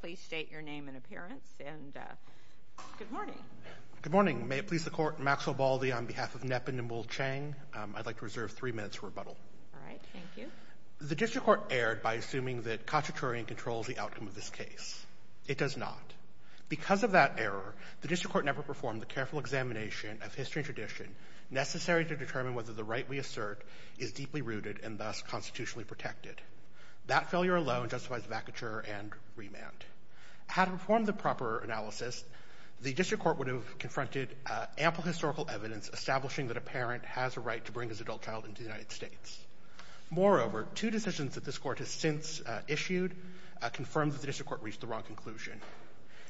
Please state your name and appearance, and good morning. Good morning. May it please the Court, Maxwell Baldy on behalf of Nepinul Chheng. I'd like to reserve three minutes for rebuttal. All right. Thank you. The district court erred by assuming that Katchaturian controls the outcome of this case. It does not. Because of that error, the district court never performed the careful examination of history and tradition necessary to determine whether the right we assert is deeply rooted and thus constitutionally protected. That failure alone justifies vacature and remand. Had it performed the proper analysis, the district court would have confronted ample historical evidence establishing that a parent has a right to bring his adult child into the United States. Moreover, two decisions that this court has since issued confirm that the district court reached the wrong conclusion.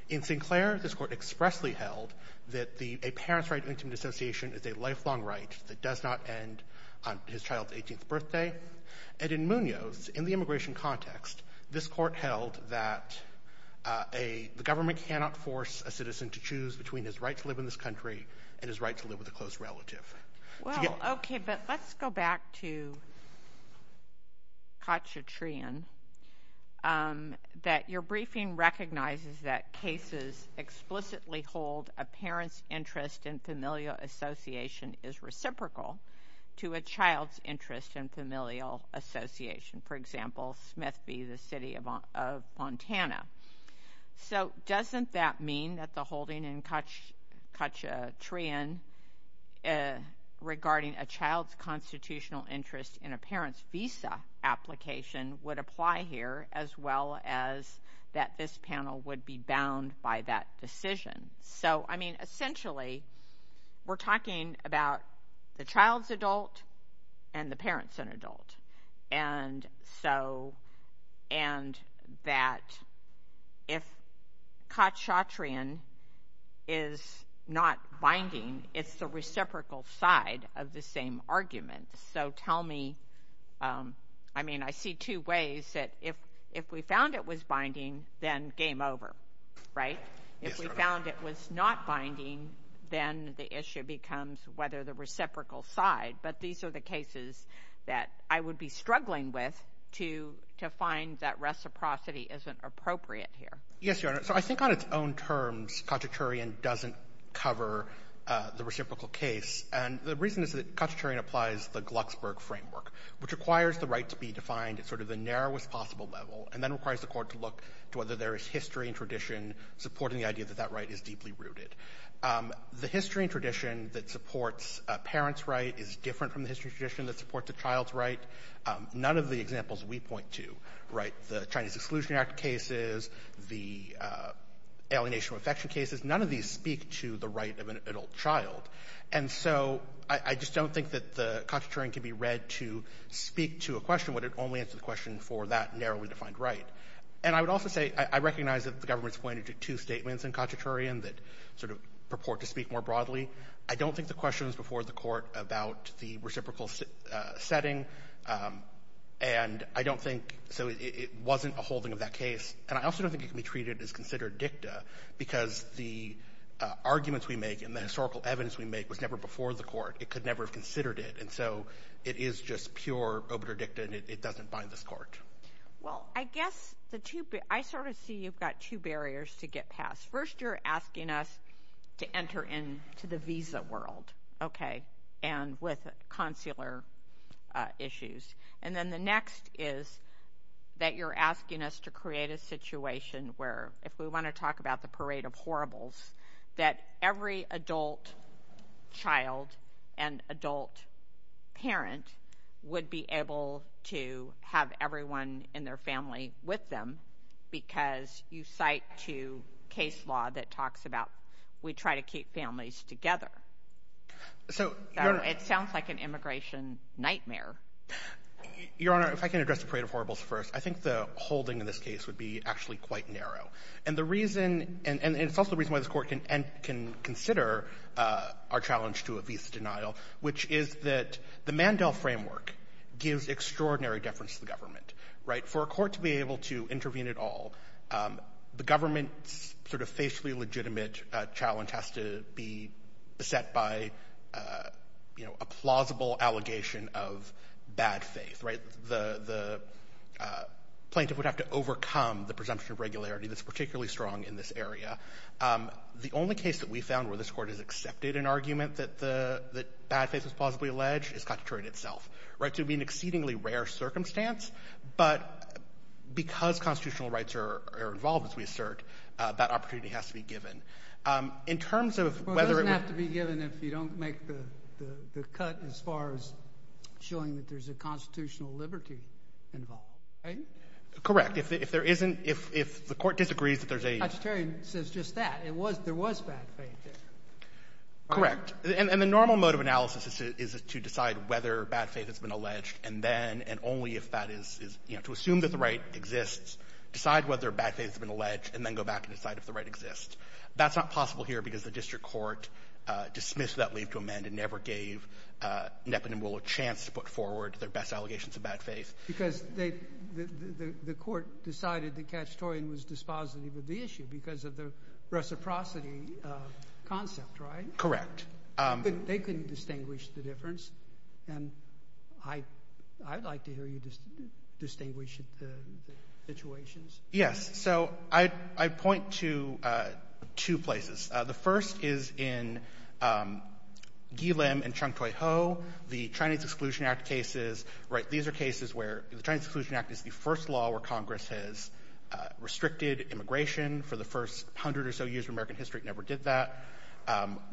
In Sinclair, this court expressly held that a parent's right to intimate association is a lifelong right that does not end on his child's 18th birthday. And in Munoz, in the immigration context, this court held that the government cannot force a citizen to choose between his right to live in this country and his right to live with a close relative. Well, okay, but let's go back to Katchatrian, that your briefing recognizes that cases explicitly hold that a parent's interest in familial association is reciprocal to a child's interest in familial association. For example, Smith v. the City of Montana. So doesn't that mean that the holding in Katchatrian regarding a child's constitutional interest in a parent's visa application would apply here as well as that this panel would be bound by that decision? So, I mean, essentially we're talking about the child's adult and the parent's an adult, and that if Katchatrian is not binding, it's the reciprocal side of the same argument. So tell me, I mean, I see two ways that if we found it was binding, then game over, right? If we found it was not binding, then the issue becomes whether the reciprocal side. But these are the cases that I would be struggling with to find that reciprocity isn't appropriate here. Yes, Your Honor. So I think on its own terms, Katchatrian doesn't cover the reciprocal case. And the reason is that Katchatrian applies the Glucksberg framework, which requires the right to be defined at sort of the narrowest possible level and then requires the Court to look to whether there is history and tradition supporting the idea that that right is deeply rooted. The history and tradition that supports a parent's right is different from the history and tradition that supports a child's right. None of the examples we point to, right, the Chinese Exclusion Act cases, the alienation of affection cases, none of these speak to the right of an adult child. And so I just don't think that the Katchatrian can be read to speak to a question, would it only answer the question for that narrowly defined right. And I would also say I recognize that the government's pointed to two statements in Katchatrian that sort of purport to speak more broadly. I don't think the question is before the Court about the reciprocal setting. And I don't think so. It wasn't a holding of that case. And I also don't think it can be treated as considered dicta because the arguments we make and the historical evidence we make was never before the Court. It could never have considered it. And so it is just pure obitur dicta, and it doesn't bind this Court. Well, I guess the two – I sort of see you've got two barriers to get past. First, you're asking us to enter into the visa world, okay, and with consular issues. And then the next is that you're asking us to create a situation where, if we want to talk about the Parade of Horribles, that every adult child and adult parent would be able to have everyone in their family with them because you cite to case law that talks about we try to keep families together. So it sounds like an immigration nightmare. Your Honor, if I can address the Parade of Horribles first, I think the holding in this case would be actually quite narrow. And the reason – and it's also the reason why this Court can consider our challenge to a visa denial, which is that the Mandel framework gives extraordinary deference to the government, right? For a court to be able to intervene at all, the government's sort of facially legitimate challenge has to be beset by a plausible allegation of bad faith, right? The plaintiff would have to overcome the presumption of regularity that's particularly strong in this area. The only case that we found where this Court has accepted an argument that the bad faith was plausibly alleged is Constitutorial itself, right? To me, an exceedingly rare circumstance. But because constitutional rights are involved, as we assert, that opportunity has to be given. In terms of whether it would – Well, it doesn't have to be given if you don't make the cut as far as showing that there's a constitutional liberty involved, right? Correct. If there isn't – if the Court disagrees that there's a – Mr. Terry says just that. It was – there was bad faith there. Correct. And the normal mode of analysis is to decide whether bad faith has been alleged and then – and only if that is – you know, to assume that the right exists, decide whether bad faith has been alleged, and then go back and decide if the right That's not possible here because the district court dismissed that leave to amend and never gave Neppen and Willow a chance to put forward their best allegations of bad faith. Because they – the Court decided that Katchetorian was dispositive of the issue because of the reciprocity concept, right? Correct. They couldn't distinguish the difference. And I'd like to hear you distinguish the situations. Yes. So I'd point to two places. The first is in Guillen and Chung-Toi Ho, the Chinese Exclusion Act cases, right? These are cases where the Chinese Exclusion Act is the first law where Congress has restricted immigration for the first hundred or so years of American history. It never did that.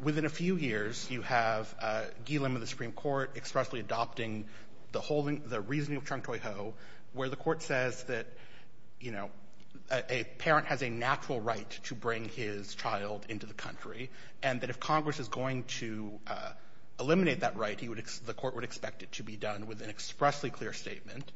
Within a few years, you have Guillen with the Supreme Court expressly adopting the holding – the reasoning of Chung-Toi Ho where the Court says that, you know, a parent has a natural right to bring his child into the country, and that if Congress is going to eliminate that right, he would – the Court would expect it to be done with an expressly clear statement.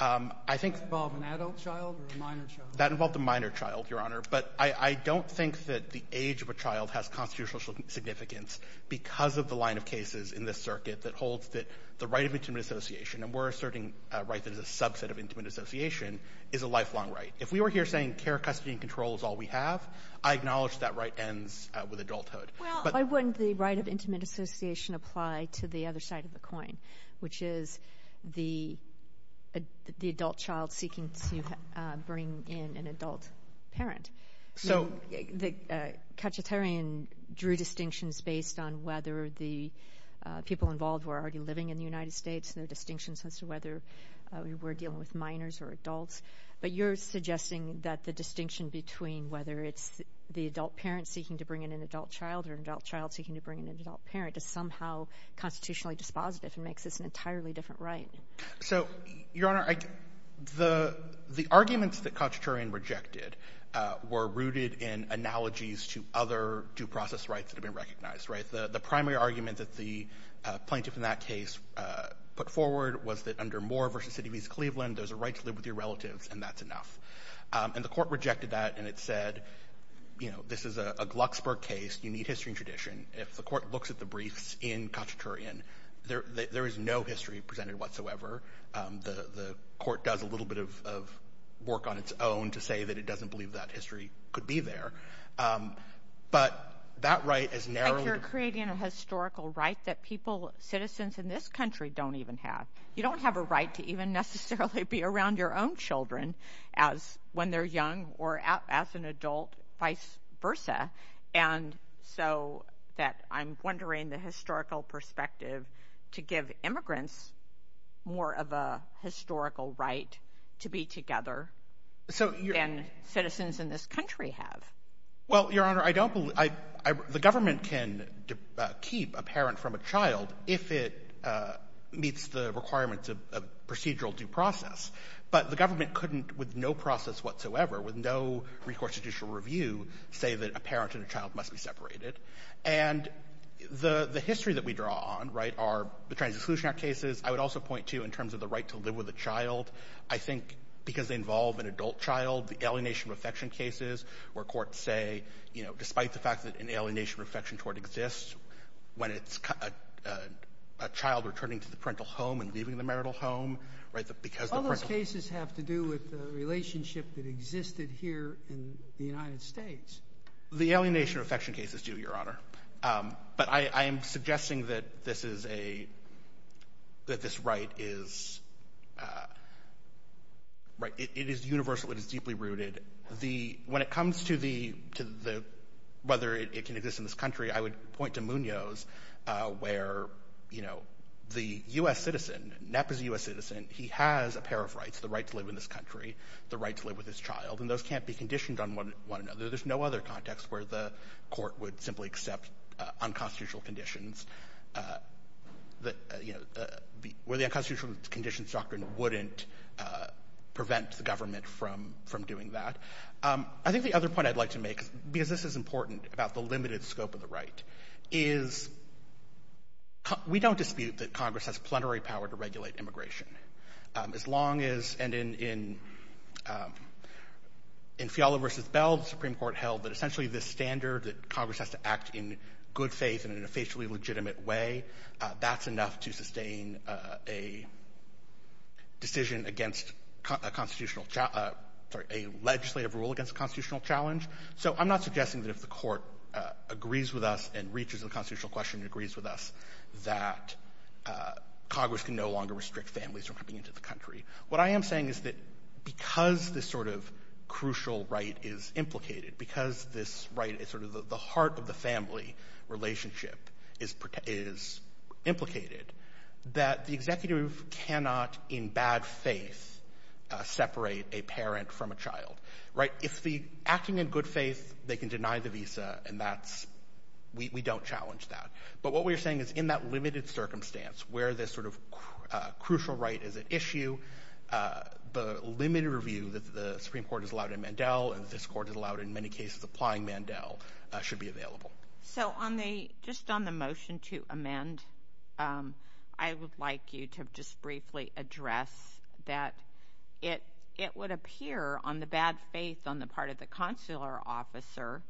I think – Does that involve an adult child or a minor child? That involved a minor child, Your Honor. But I don't think that the age of a child has constitutional significance because of the line of cases in this circuit that holds that the right of intimate association – and we're asserting a right that is a subset of intimate association – is a lifelong right. If we were here saying care, custody, and control is all we have, I acknowledge that right ends with adulthood. Well, why wouldn't the right of intimate association apply to the other side of the coin, which is the adult child seeking to bring in an adult parent? So – The Katchatarian drew distinctions based on whether the people involved were already living in the United States. There are distinctions as to whether we're dealing with minors or adults. But you're suggesting that the distinction between whether it's the adult parent seeking to bring in an adult child or an adult child seeking to bring in an adult parent is somehow constitutionally dispositive and makes this an entirely different right. So, Your Honor, the arguments that Katchatarian rejected were rooted in analogies to other due process rights that have been recognized, right? The primary argument that the plaintiff in that case put forward was that under Moore v. City of East Cleveland, there's a right to live with your relatives, and that's enough. And the court rejected that, and it said, you know, this is a Glucksburg case. You need history and tradition. If the court looks at the briefs in Katchatarian, there is no history presented whatsoever. The court does a little bit of work on its own to say that it doesn't believe that history could be there. But that right, as narrowed – You're creating a historical right that people, citizens in this country don't even have. You don't have a right to even necessarily be around your own children when they're young or as an adult, vice versa. And so I'm wondering the historical perspective to give immigrants more of a historical right to be together than citizens in this country have. Well, Your Honor, I don't believe – the government can keep a parent from a child if it meets the requirements of procedural due process. But the government couldn't, with no process whatsoever, with no recourse to judicial review, say that a parent and a child must be separated. And the history that we draw on, right, are the Trans-Exclusion Act cases. I would also point to, in terms of the right to live with a child, I think because they involve an adult child, the alienation of affection cases where courts say, you know, despite the fact that an alienation of affection toward exists, when it's a child returning to the parental home and leaving the marital home, right, because the parental – All those cases have to do with the relationship that existed here in the United States. The alienation of affection cases do, Your Honor. But I am suggesting that this is a – that this right is – right, it is universal. It is deeply rooted. The – when it comes to the – to the – whether it can exist in this country, I would point to Munoz, where, you know, the U.S. citizen – NEP is a U.S. citizen. He has a pair of rights, the right to live in this country, the right to live with his child. And those can't be conditioned on one another. There's no other context where the court would simply accept unconstitutional conditions that, you know, where the unconstitutional conditions doctrine wouldn't prevent the government from doing that. I think the other point I'd like to make, because this is important about the limited scope of the right, is we don't dispute that Congress has plenary power to regulate immigration. As long as – and in Fiala v. Bell, the Supreme Court held that essentially the standard that Congress has to act in good faith and in a facially legitimate way, that's enough to sustain a decision against a constitutional – sorry, a legislative rule against a constitutional challenge. So I'm not suggesting that if the court agrees with us and reaches a constitutional question and agrees with us that Congress can no longer restrict families from coming into the country. What I am saying is that because this sort of crucial right is implicated, because this right is sort of the heart of the family relationship is implicated, that the executive cannot in bad faith separate a parent from a child, right? If the – acting in good faith, they can deny the visa, and that's – we don't challenge that. But what we're saying is in that limited circumstance where this sort of crucial right is at issue, the limited review that the Supreme Court has allowed in Mandel and this court has allowed in many cases applying Mandel should be available. So on the – just on the motion to amend, I would like you to just briefly address that it would appear on the bad faith on the part of the consular officer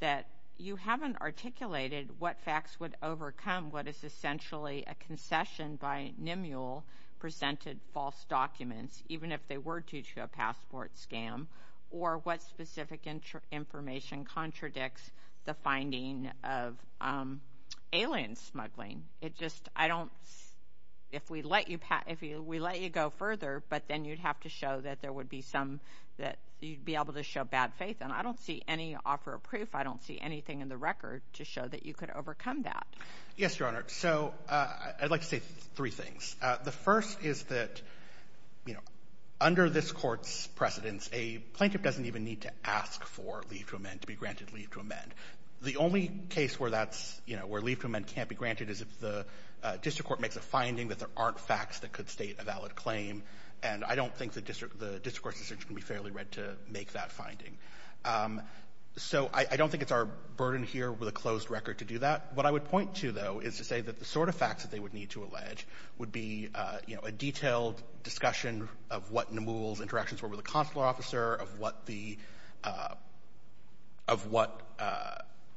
that you haven't articulated what facts would overcome what is essentially a concession by NMULE presented false documents, even if they were due to a passport scam, or what specific information contradicts the finding of alien smuggling. It just – I don't – if we let you – if we let you go further, but then you'd have to show that there would be some – that you'd be able to show bad faith. And I don't see any offer of proof. I don't see anything in the record to show that you could overcome that. Yes, Your Honor. So I'd like to say three things. The first is that under this court's precedence, a plaintiff doesn't even need to ask for leave to amend, to be granted leave to amend. The only case where that's – you know, where leave to amend can't be granted is if the district court makes a finding that there aren't facts that could state a valid claim. And I don't think the district – the district court's decision can be fairly read to make that finding. So I don't think it's our burden here with a closed record to do that. What I would point to, though, is to say that the sort of facts that they would need to allege would be, you know, a detailed discussion of what NMULE's interactions were with the consular officer, of what the – of what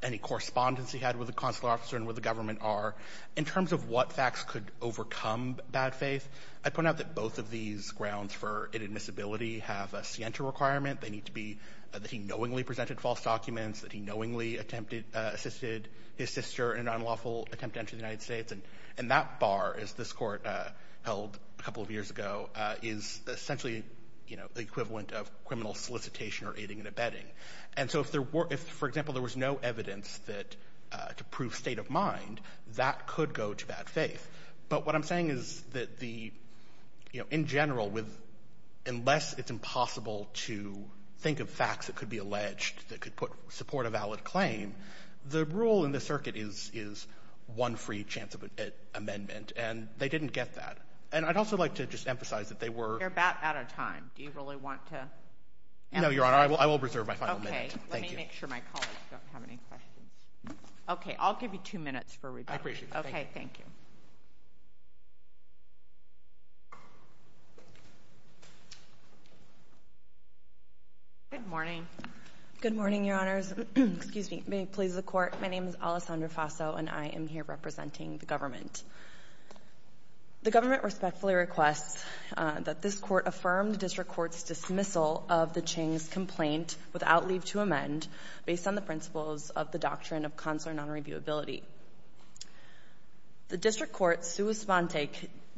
any correspondence he had with the consular officer and with the government are. In terms of what facts could overcome bad faith, I'd point out that both of these grounds for inadmissibility have a scienter requirement. They need to be that he knowingly presented false documents, that he knowingly attempted – assisted his sister in an unlawful attempt to enter the United States. And that bar, as this Court held a couple of years ago, is essentially, you know, the equivalent of criminal solicitation or aiding and abetting. And so if there were – if, for example, there was no evidence that – to prove state of mind, that could go to bad faith. But what I'm saying is that the – you know, in general, unless it's impossible to think of facts that could be alleged that could put – support a valid claim, the rule in the circuit is one free chance of an amendment. And they didn't get that. And I'd also like to just emphasize that they were – You're about out of time. Do you really want to – No, Your Honor. I will reserve my final minute. Thank you. Okay. Let me make sure my colleagues don't have any questions. Okay. I'll give you two minutes for rebuttal. I appreciate it. Thank you. Okay. Thank you. Good morning. Good morning, Your Honors. Excuse me. May it please the Court. My name is Alessandra Faso, and I am here representing the government. The government respectfully requests that this Court affirm the district court's dismissal of the Ching's complaint without leave to amend based on the principles of the doctrine of consular nonreviewability. The district court, sua sponte,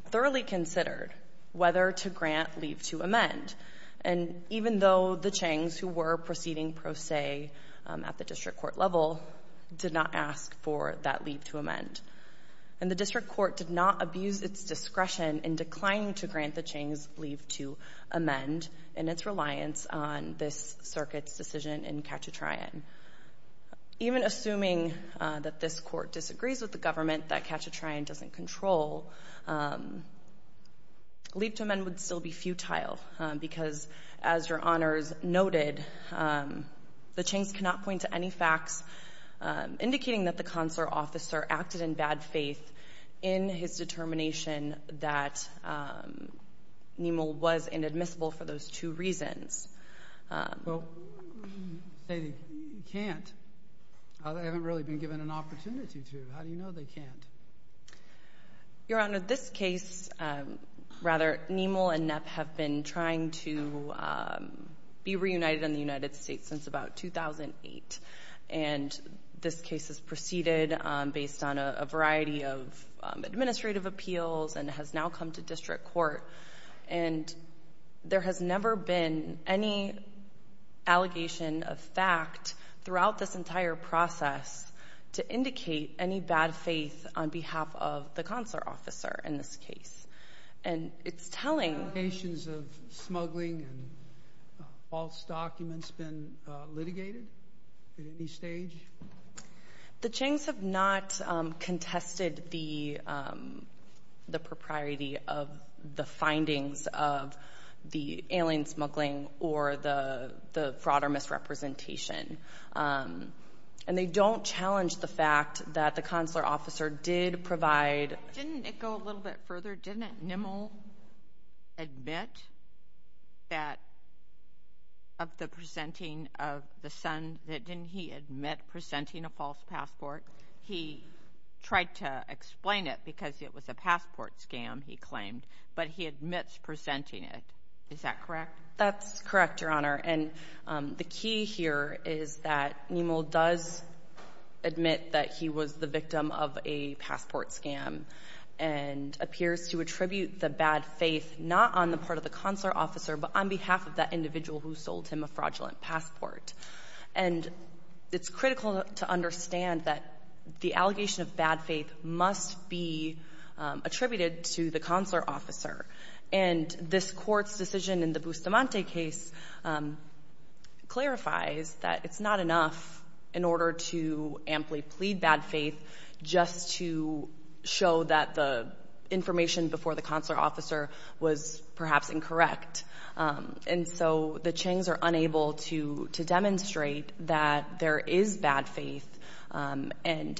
thoroughly considered whether to grant leave to amend. And even though the Ching's, who were proceeding pro se at the district court level, did not ask for that leave to amend. And the district court did not abuse its discretion in declining to grant the Ching's leave to amend in its reliance on this circuit's decision in Cachatrayan. Even assuming that this Court disagrees with the government that Cachatrayan doesn't control, leave to amend would still be futile because, as Your Honors noted, the Ching's cannot point to any facts indicating that the consular officer acted in bad faith in his determination that NEML was inadmissible for those two reasons. Well, you say they can't. They haven't really been given an opportunity to. How do you know they can't? Your Honor, this case, rather, NEML and NEP have been trying to be reunited in the United States since about 2008. And this case has proceeded based on a variety of administrative appeals and has now come to district court. And there has never been any allegation of fact throughout this entire process to indicate any bad faith on behalf of the consular officer in this case. And it's telling. Have allegations of smuggling and false documents been litigated at any stage? The Ching's have not contested the propriety of the findings of the alien smuggling or the fraud or misrepresentation. And they don't challenge the fact that the consular officer did provide. Didn't it go a little bit further? Your Honor, didn't NEML admit that of the presenting of the son, didn't he admit presenting a false passport? He tried to explain it because it was a passport scam, he claimed, but he admits presenting it. Is that correct? That's correct, Your Honor. And the key here is that NEML does admit that he was the victim of a passport scam and appears to attribute the bad faith not on the part of the consular officer but on behalf of that individual who sold him a fraudulent passport. And it's critical to understand that the allegation of bad faith must be attributed to the consular officer. And this Court's decision in the Bustamante case clarifies that it's not enough in order to amply plead bad faith just to show that the information before the consular officer was perhaps incorrect. And so the Changs are unable to demonstrate that there is bad faith, and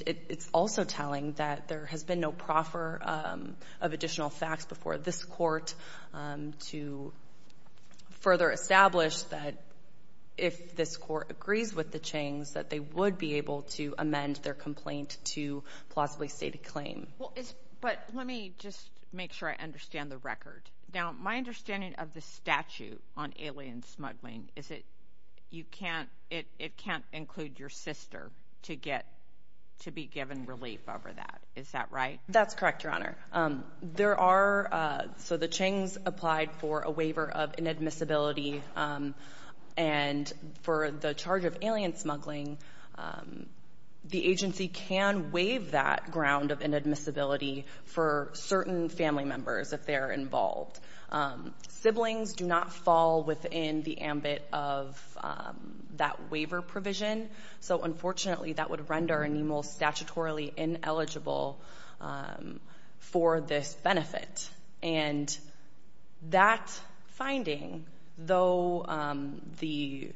it's also telling that there has been no proffer of additional facts before this Court to further establish that if this Court agrees with the Changs, that they would be able to amend their complaint to plausibly state a claim. But let me just make sure I understand the record. Now, my understanding of the statute on alien smuggling is that it can't include your sister to be given relief over that. Is that right? That's correct, Your Honor. There are so the Changs applied for a waiver of inadmissibility, and for the charge of alien smuggling, the agency can waive that ground of inadmissibility for certain family members if they're involved. Siblings do not fall within the ambit of that waiver provision, so unfortunately that would render an email statutorily ineligible for this benefit. And that finding, though the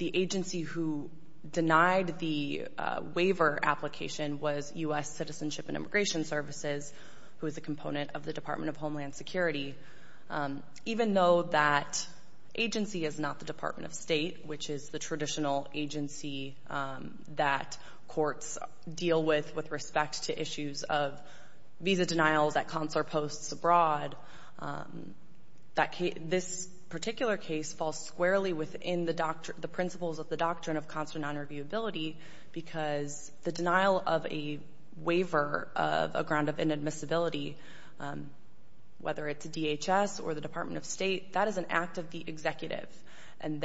agency who denied the waiver application was U.S. Citizenship and Immigration Services, who is a component of the Department of Homeland Security, even though that agency is not the Department of State, which is the traditional agency that courts deal with with respect to issues of visa denials at consular posts abroad, this particular case falls squarely within the principles of the doctrine of consular nonreviewability because the denial of a waiver of a ground of inadmissibility, whether it's DHS or the Department of State, that is an act of the executive. And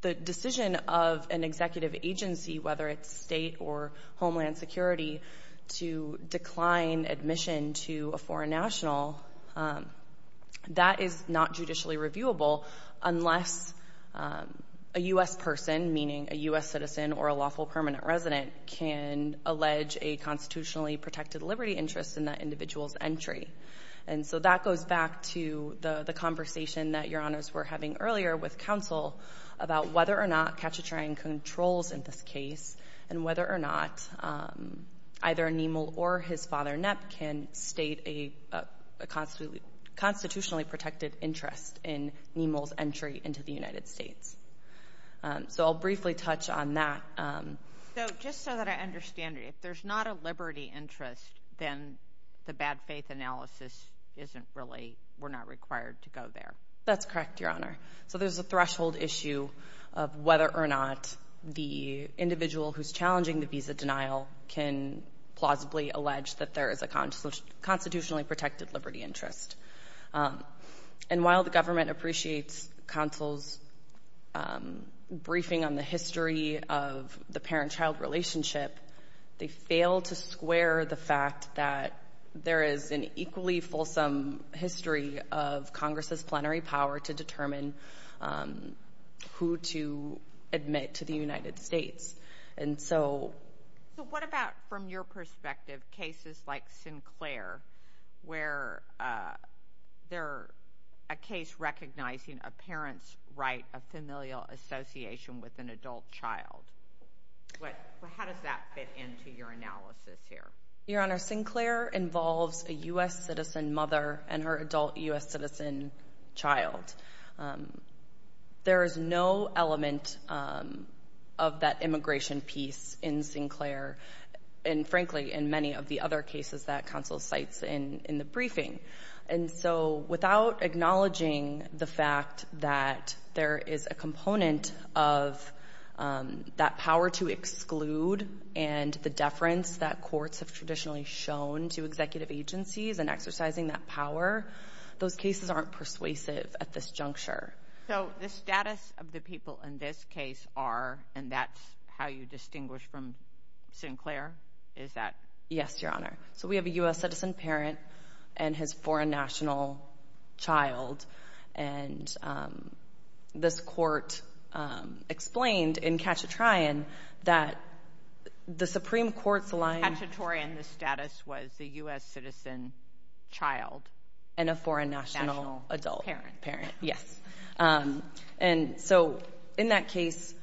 the decision of an executive agency, whether it's state or homeland security, to decline admission to a foreign national, that is not judicially reviewable unless a U.S. person, meaning a U.S. citizen or a lawful permanent resident, can allege a constitutionally protected liberty interest in that individual's entry. And so that goes back to the conversation that Your Honors were having earlier with counsel about whether or not Katchatrain controls in this case and whether or not either Niemel or his father Knapp can state a constitutionally protected interest in Niemel's entry into the United States. So I'll briefly touch on that. So just so that I understand, if there's not a liberty interest, then the bad faith analysis isn't really we're not required to go there. That's correct, Your Honor. So there's a threshold issue of whether or not the individual who's challenging the visa denial can plausibly allege that there is a constitutionally protected liberty interest. And while the government appreciates counsel's briefing on the history of the parent-child relationship, they fail to square the fact that there is an equally fulsome history of Congress's plenary power to determine who to admit to the United States. So what about, from your perspective, cases like Sinclair, where they're a case recognizing a parent's right of familial association with an adult child? How does that fit into your analysis here? Your Honor, Sinclair involves a U.S. citizen mother and her adult U.S. citizen child. There is no element of that immigration piece in Sinclair and, frankly, in many of the other cases that counsel cites in the briefing. And so without acknowledging the fact that there is a component of that power to exclude and the deference that courts have traditionally shown to executive agencies in exercising that power, those cases aren't persuasive at this juncture. So the status of the people in this case are, and that's how you distinguish from Sinclair, is that? Yes, Your Honor. So we have a U.S. citizen parent and his foreign national child, and this court explained in Cachetrian that the Supreme Court's line— —was the U.S. citizen child. And a foreign national adult. National parent. Parent, yes. And so in that case,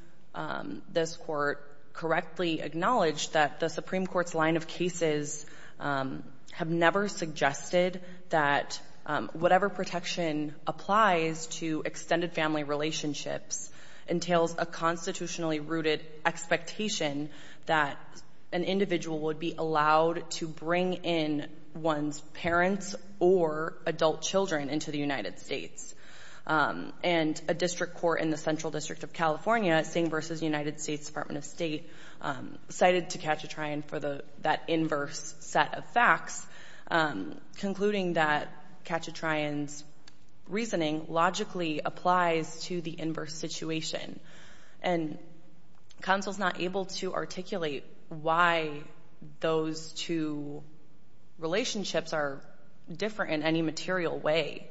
this court correctly acknowledged that the Supreme Court's line of cases have never suggested that whatever protection applies to extended family relationships entails a constitutionally-rooted expectation that an individual would be allowed to bring in one's parents or adult children into the United States. And a district court in the Central District of California, Sing v. United States Department of State, cited Cachetrian for that inverse set of facts, concluding that Cachetrian's reasoning logically applies to the inverse situation. And counsel's not able to articulate why those two relationships are different in any material way.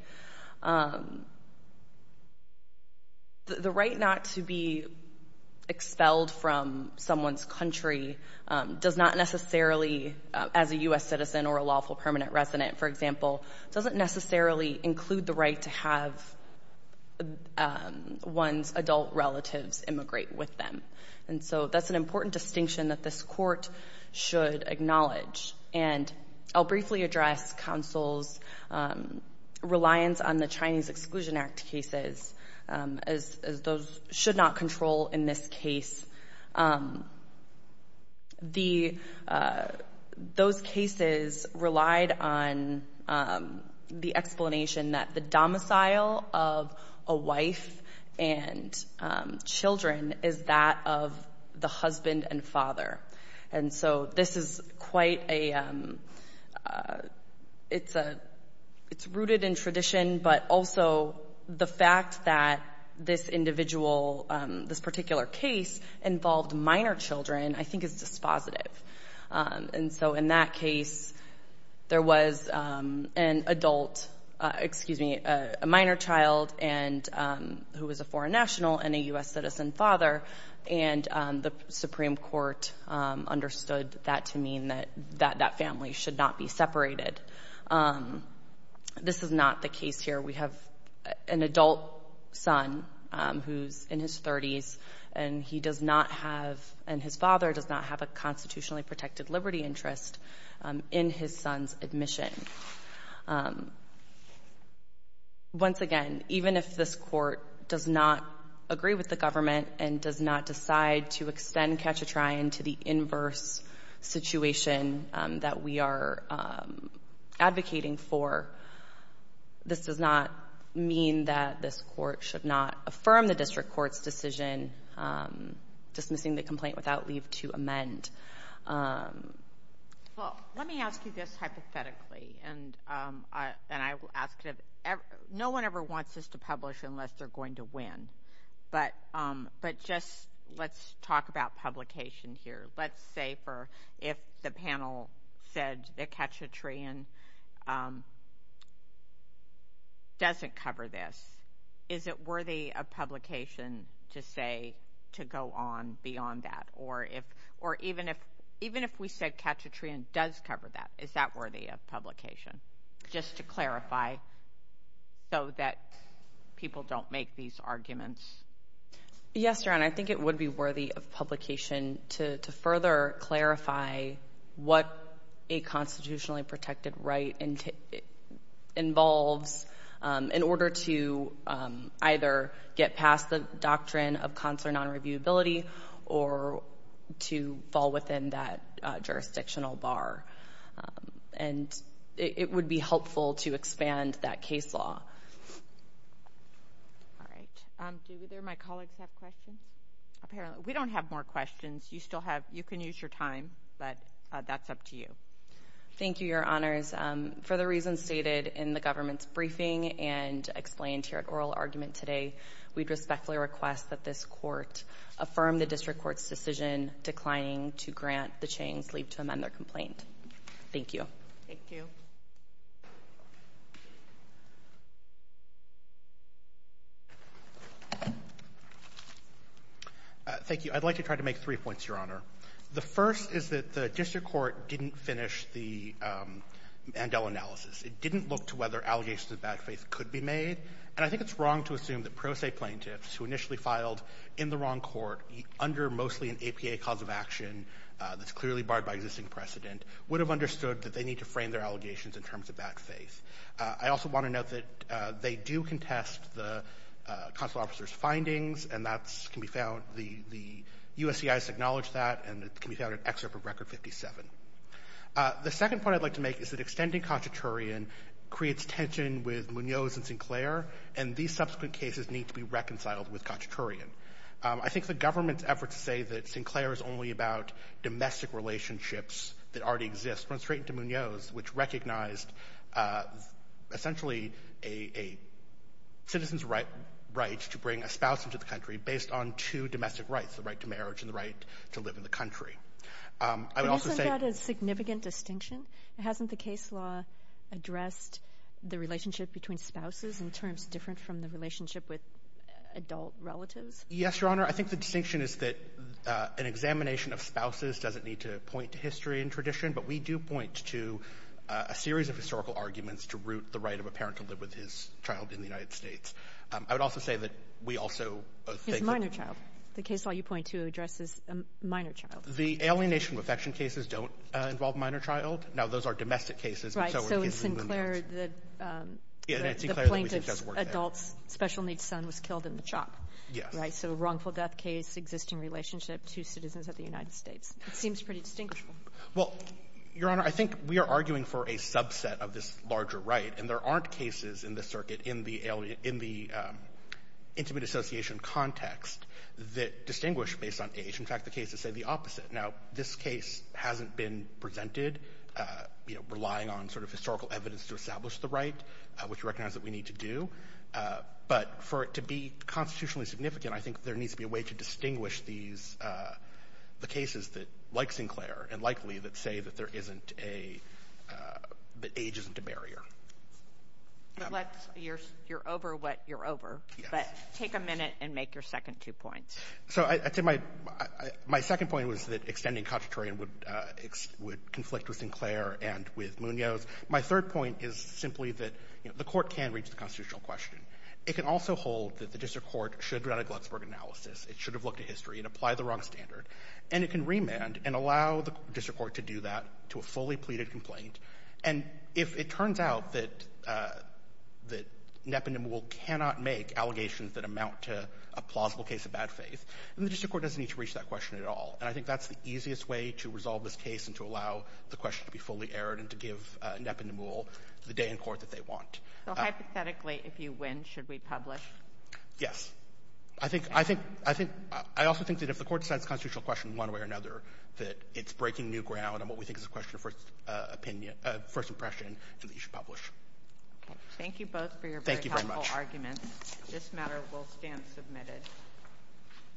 The right not to be expelled from someone's country does not necessarily, as a U.S. citizen or a lawful permanent resident, for example, doesn't necessarily include the right to have one's adult relatives immigrate with them. And so that's an important distinction that this court should acknowledge. And I'll briefly address counsel's reliance on the Chinese Exclusion Act cases, as those should not control in this case. Those cases relied on the explanation that the domicile of a wife and children is that of the husband and father. And so this is quite a—it's rooted in tradition, but also the fact that this individual, this particular case, involved minor children I think is dispositive. And so in that case, there was an adult—excuse me, a minor child who was a foreign national and a U.S. citizen father, and the Supreme Court understood that to mean that that family should not be separated. This is not the case here. We have an adult son who's in his 30s, and he does not have— and his father does not have a constitutionally protected liberty interest in his son's admission. Once again, even if this court does not agree with the government and does not decide to extend catch-a-try into the inverse situation that we are advocating for, this does not mean that this court should not affirm the district court's decision, dismissing the complaint without leave to amend. Well, let me ask you this hypothetically, and I will ask it— no one ever wants this to publish unless they're going to win, but just let's talk about publication here. Let's say if the panel said that catch-a-try doesn't cover this, is it worthy of publication to say to go on beyond that? Or even if we said catch-a-try does cover that, is that worthy of publication? Just to clarify so that people don't make these arguments. Yes, Your Honor, I think it would be worthy of publication to further clarify what a constitutionally protected right involves in order to either get past the doctrine of consular nonreviewability or to fall within that jurisdictional bar. And it would be helpful to expand that case law. All right. Do either of my colleagues have questions? We don't have more questions. You can use your time, but that's up to you. Thank you, Your Honors. For the reasons stated in the government's briefing and explained here at oral argument today, we'd respectfully request that this court affirm the district court's decision declining to grant the Chang's leave to amend their complaint. Thank you. Thank you. Thank you. I'd like to try to make three points, Your Honor. The first is that the district court didn't finish the Mandela analysis. It didn't look to whether allegations of bad faith could be made. And I think it's wrong to assume that pro se plaintiffs who initially filed in the wrong court under mostly an APA cause of action that's clearly barred by existing precedent would have understood that they need to frame their allegations in terms of bad faith. I also want to note that they do contest the consular officer's findings, and that can be found the USCIS acknowledged that, and it can be found in Excerpt of Record 57. The second point I'd like to make is that extending Katchaturian creates tension with Munoz and Sinclair, and these subsequent cases need to be reconciled with Katchaturian. I think the government's effort to say that Sinclair is only about domestic relationships that already exist runs straight into Munoz, which recognized essentially a citizen's right to bring a spouse into the country based on two domestic rights, the right to marriage and the right to live in the country. I would also say — But isn't that a significant distinction? Hasn't the case law addressed the relationship between spouses in terms different from the Yes, Your Honor. I think the distinction is that an examination of spouses doesn't need to point to history and tradition, but we do point to a series of historical arguments to root the right of a parent to live with his child in the United States. I would also say that we also think that — His minor child. The case law you point to addresses a minor child. The alienation of affection cases don't involve a minor child. Now, those are domestic cases, but so are the cases in Munoz. Right. So it's Sinclair that — Yeah, and it's Sinclair that we think does work there. The adult's special-needs son was killed in the chop. Yes. Right? So wrongful death case, existing relationship, two citizens of the United States. It seems pretty distinguishable. Well, Your Honor, I think we are arguing for a subset of this larger right, and there aren't cases in this circuit in the intimate association context that distinguish based on age. In fact, the cases say the opposite. Now, this case hasn't been presented, you know, relying on sort of historical evidence to establish the right, which we recognize that we need to do. But for it to be constitutionally significant, I think there needs to be a way to distinguish these — the cases that — like Sinclair, and likely that say that there isn't a — that age isn't a barrier. But let's — you're over what you're over. Yes. But take a minute and make your second two points. So I think my — my second point was that extending constitutorial would conflict with Sinclair and with Munoz. My third point is simply that, you know, the Court can reach the constitutional question. It can also hold that the district court should run a Glucksberg analysis. It should have looked at history and applied the wrong standard. And it can remand and allow the district court to do that to a fully pleaded complaint. And if it turns out that — that NEPA and NMUL cannot make allegations that amount to a plausible case of bad faith, then the district court doesn't need to reach that question at all. And I think that's the easiest way to resolve this case and to allow the question to be fully aired and to give NEPA and NMUL the day in court that they want. So hypothetically, if you win, should we publish? Yes. I think — I think — I think — I also think that if the Court decides a constitutional question one way or another, that it's breaking new ground on what we think is a question of first opinion — first impression, then we should publish. Thank you both for your very helpful arguments. Thank you very much. This matter will stand submitted.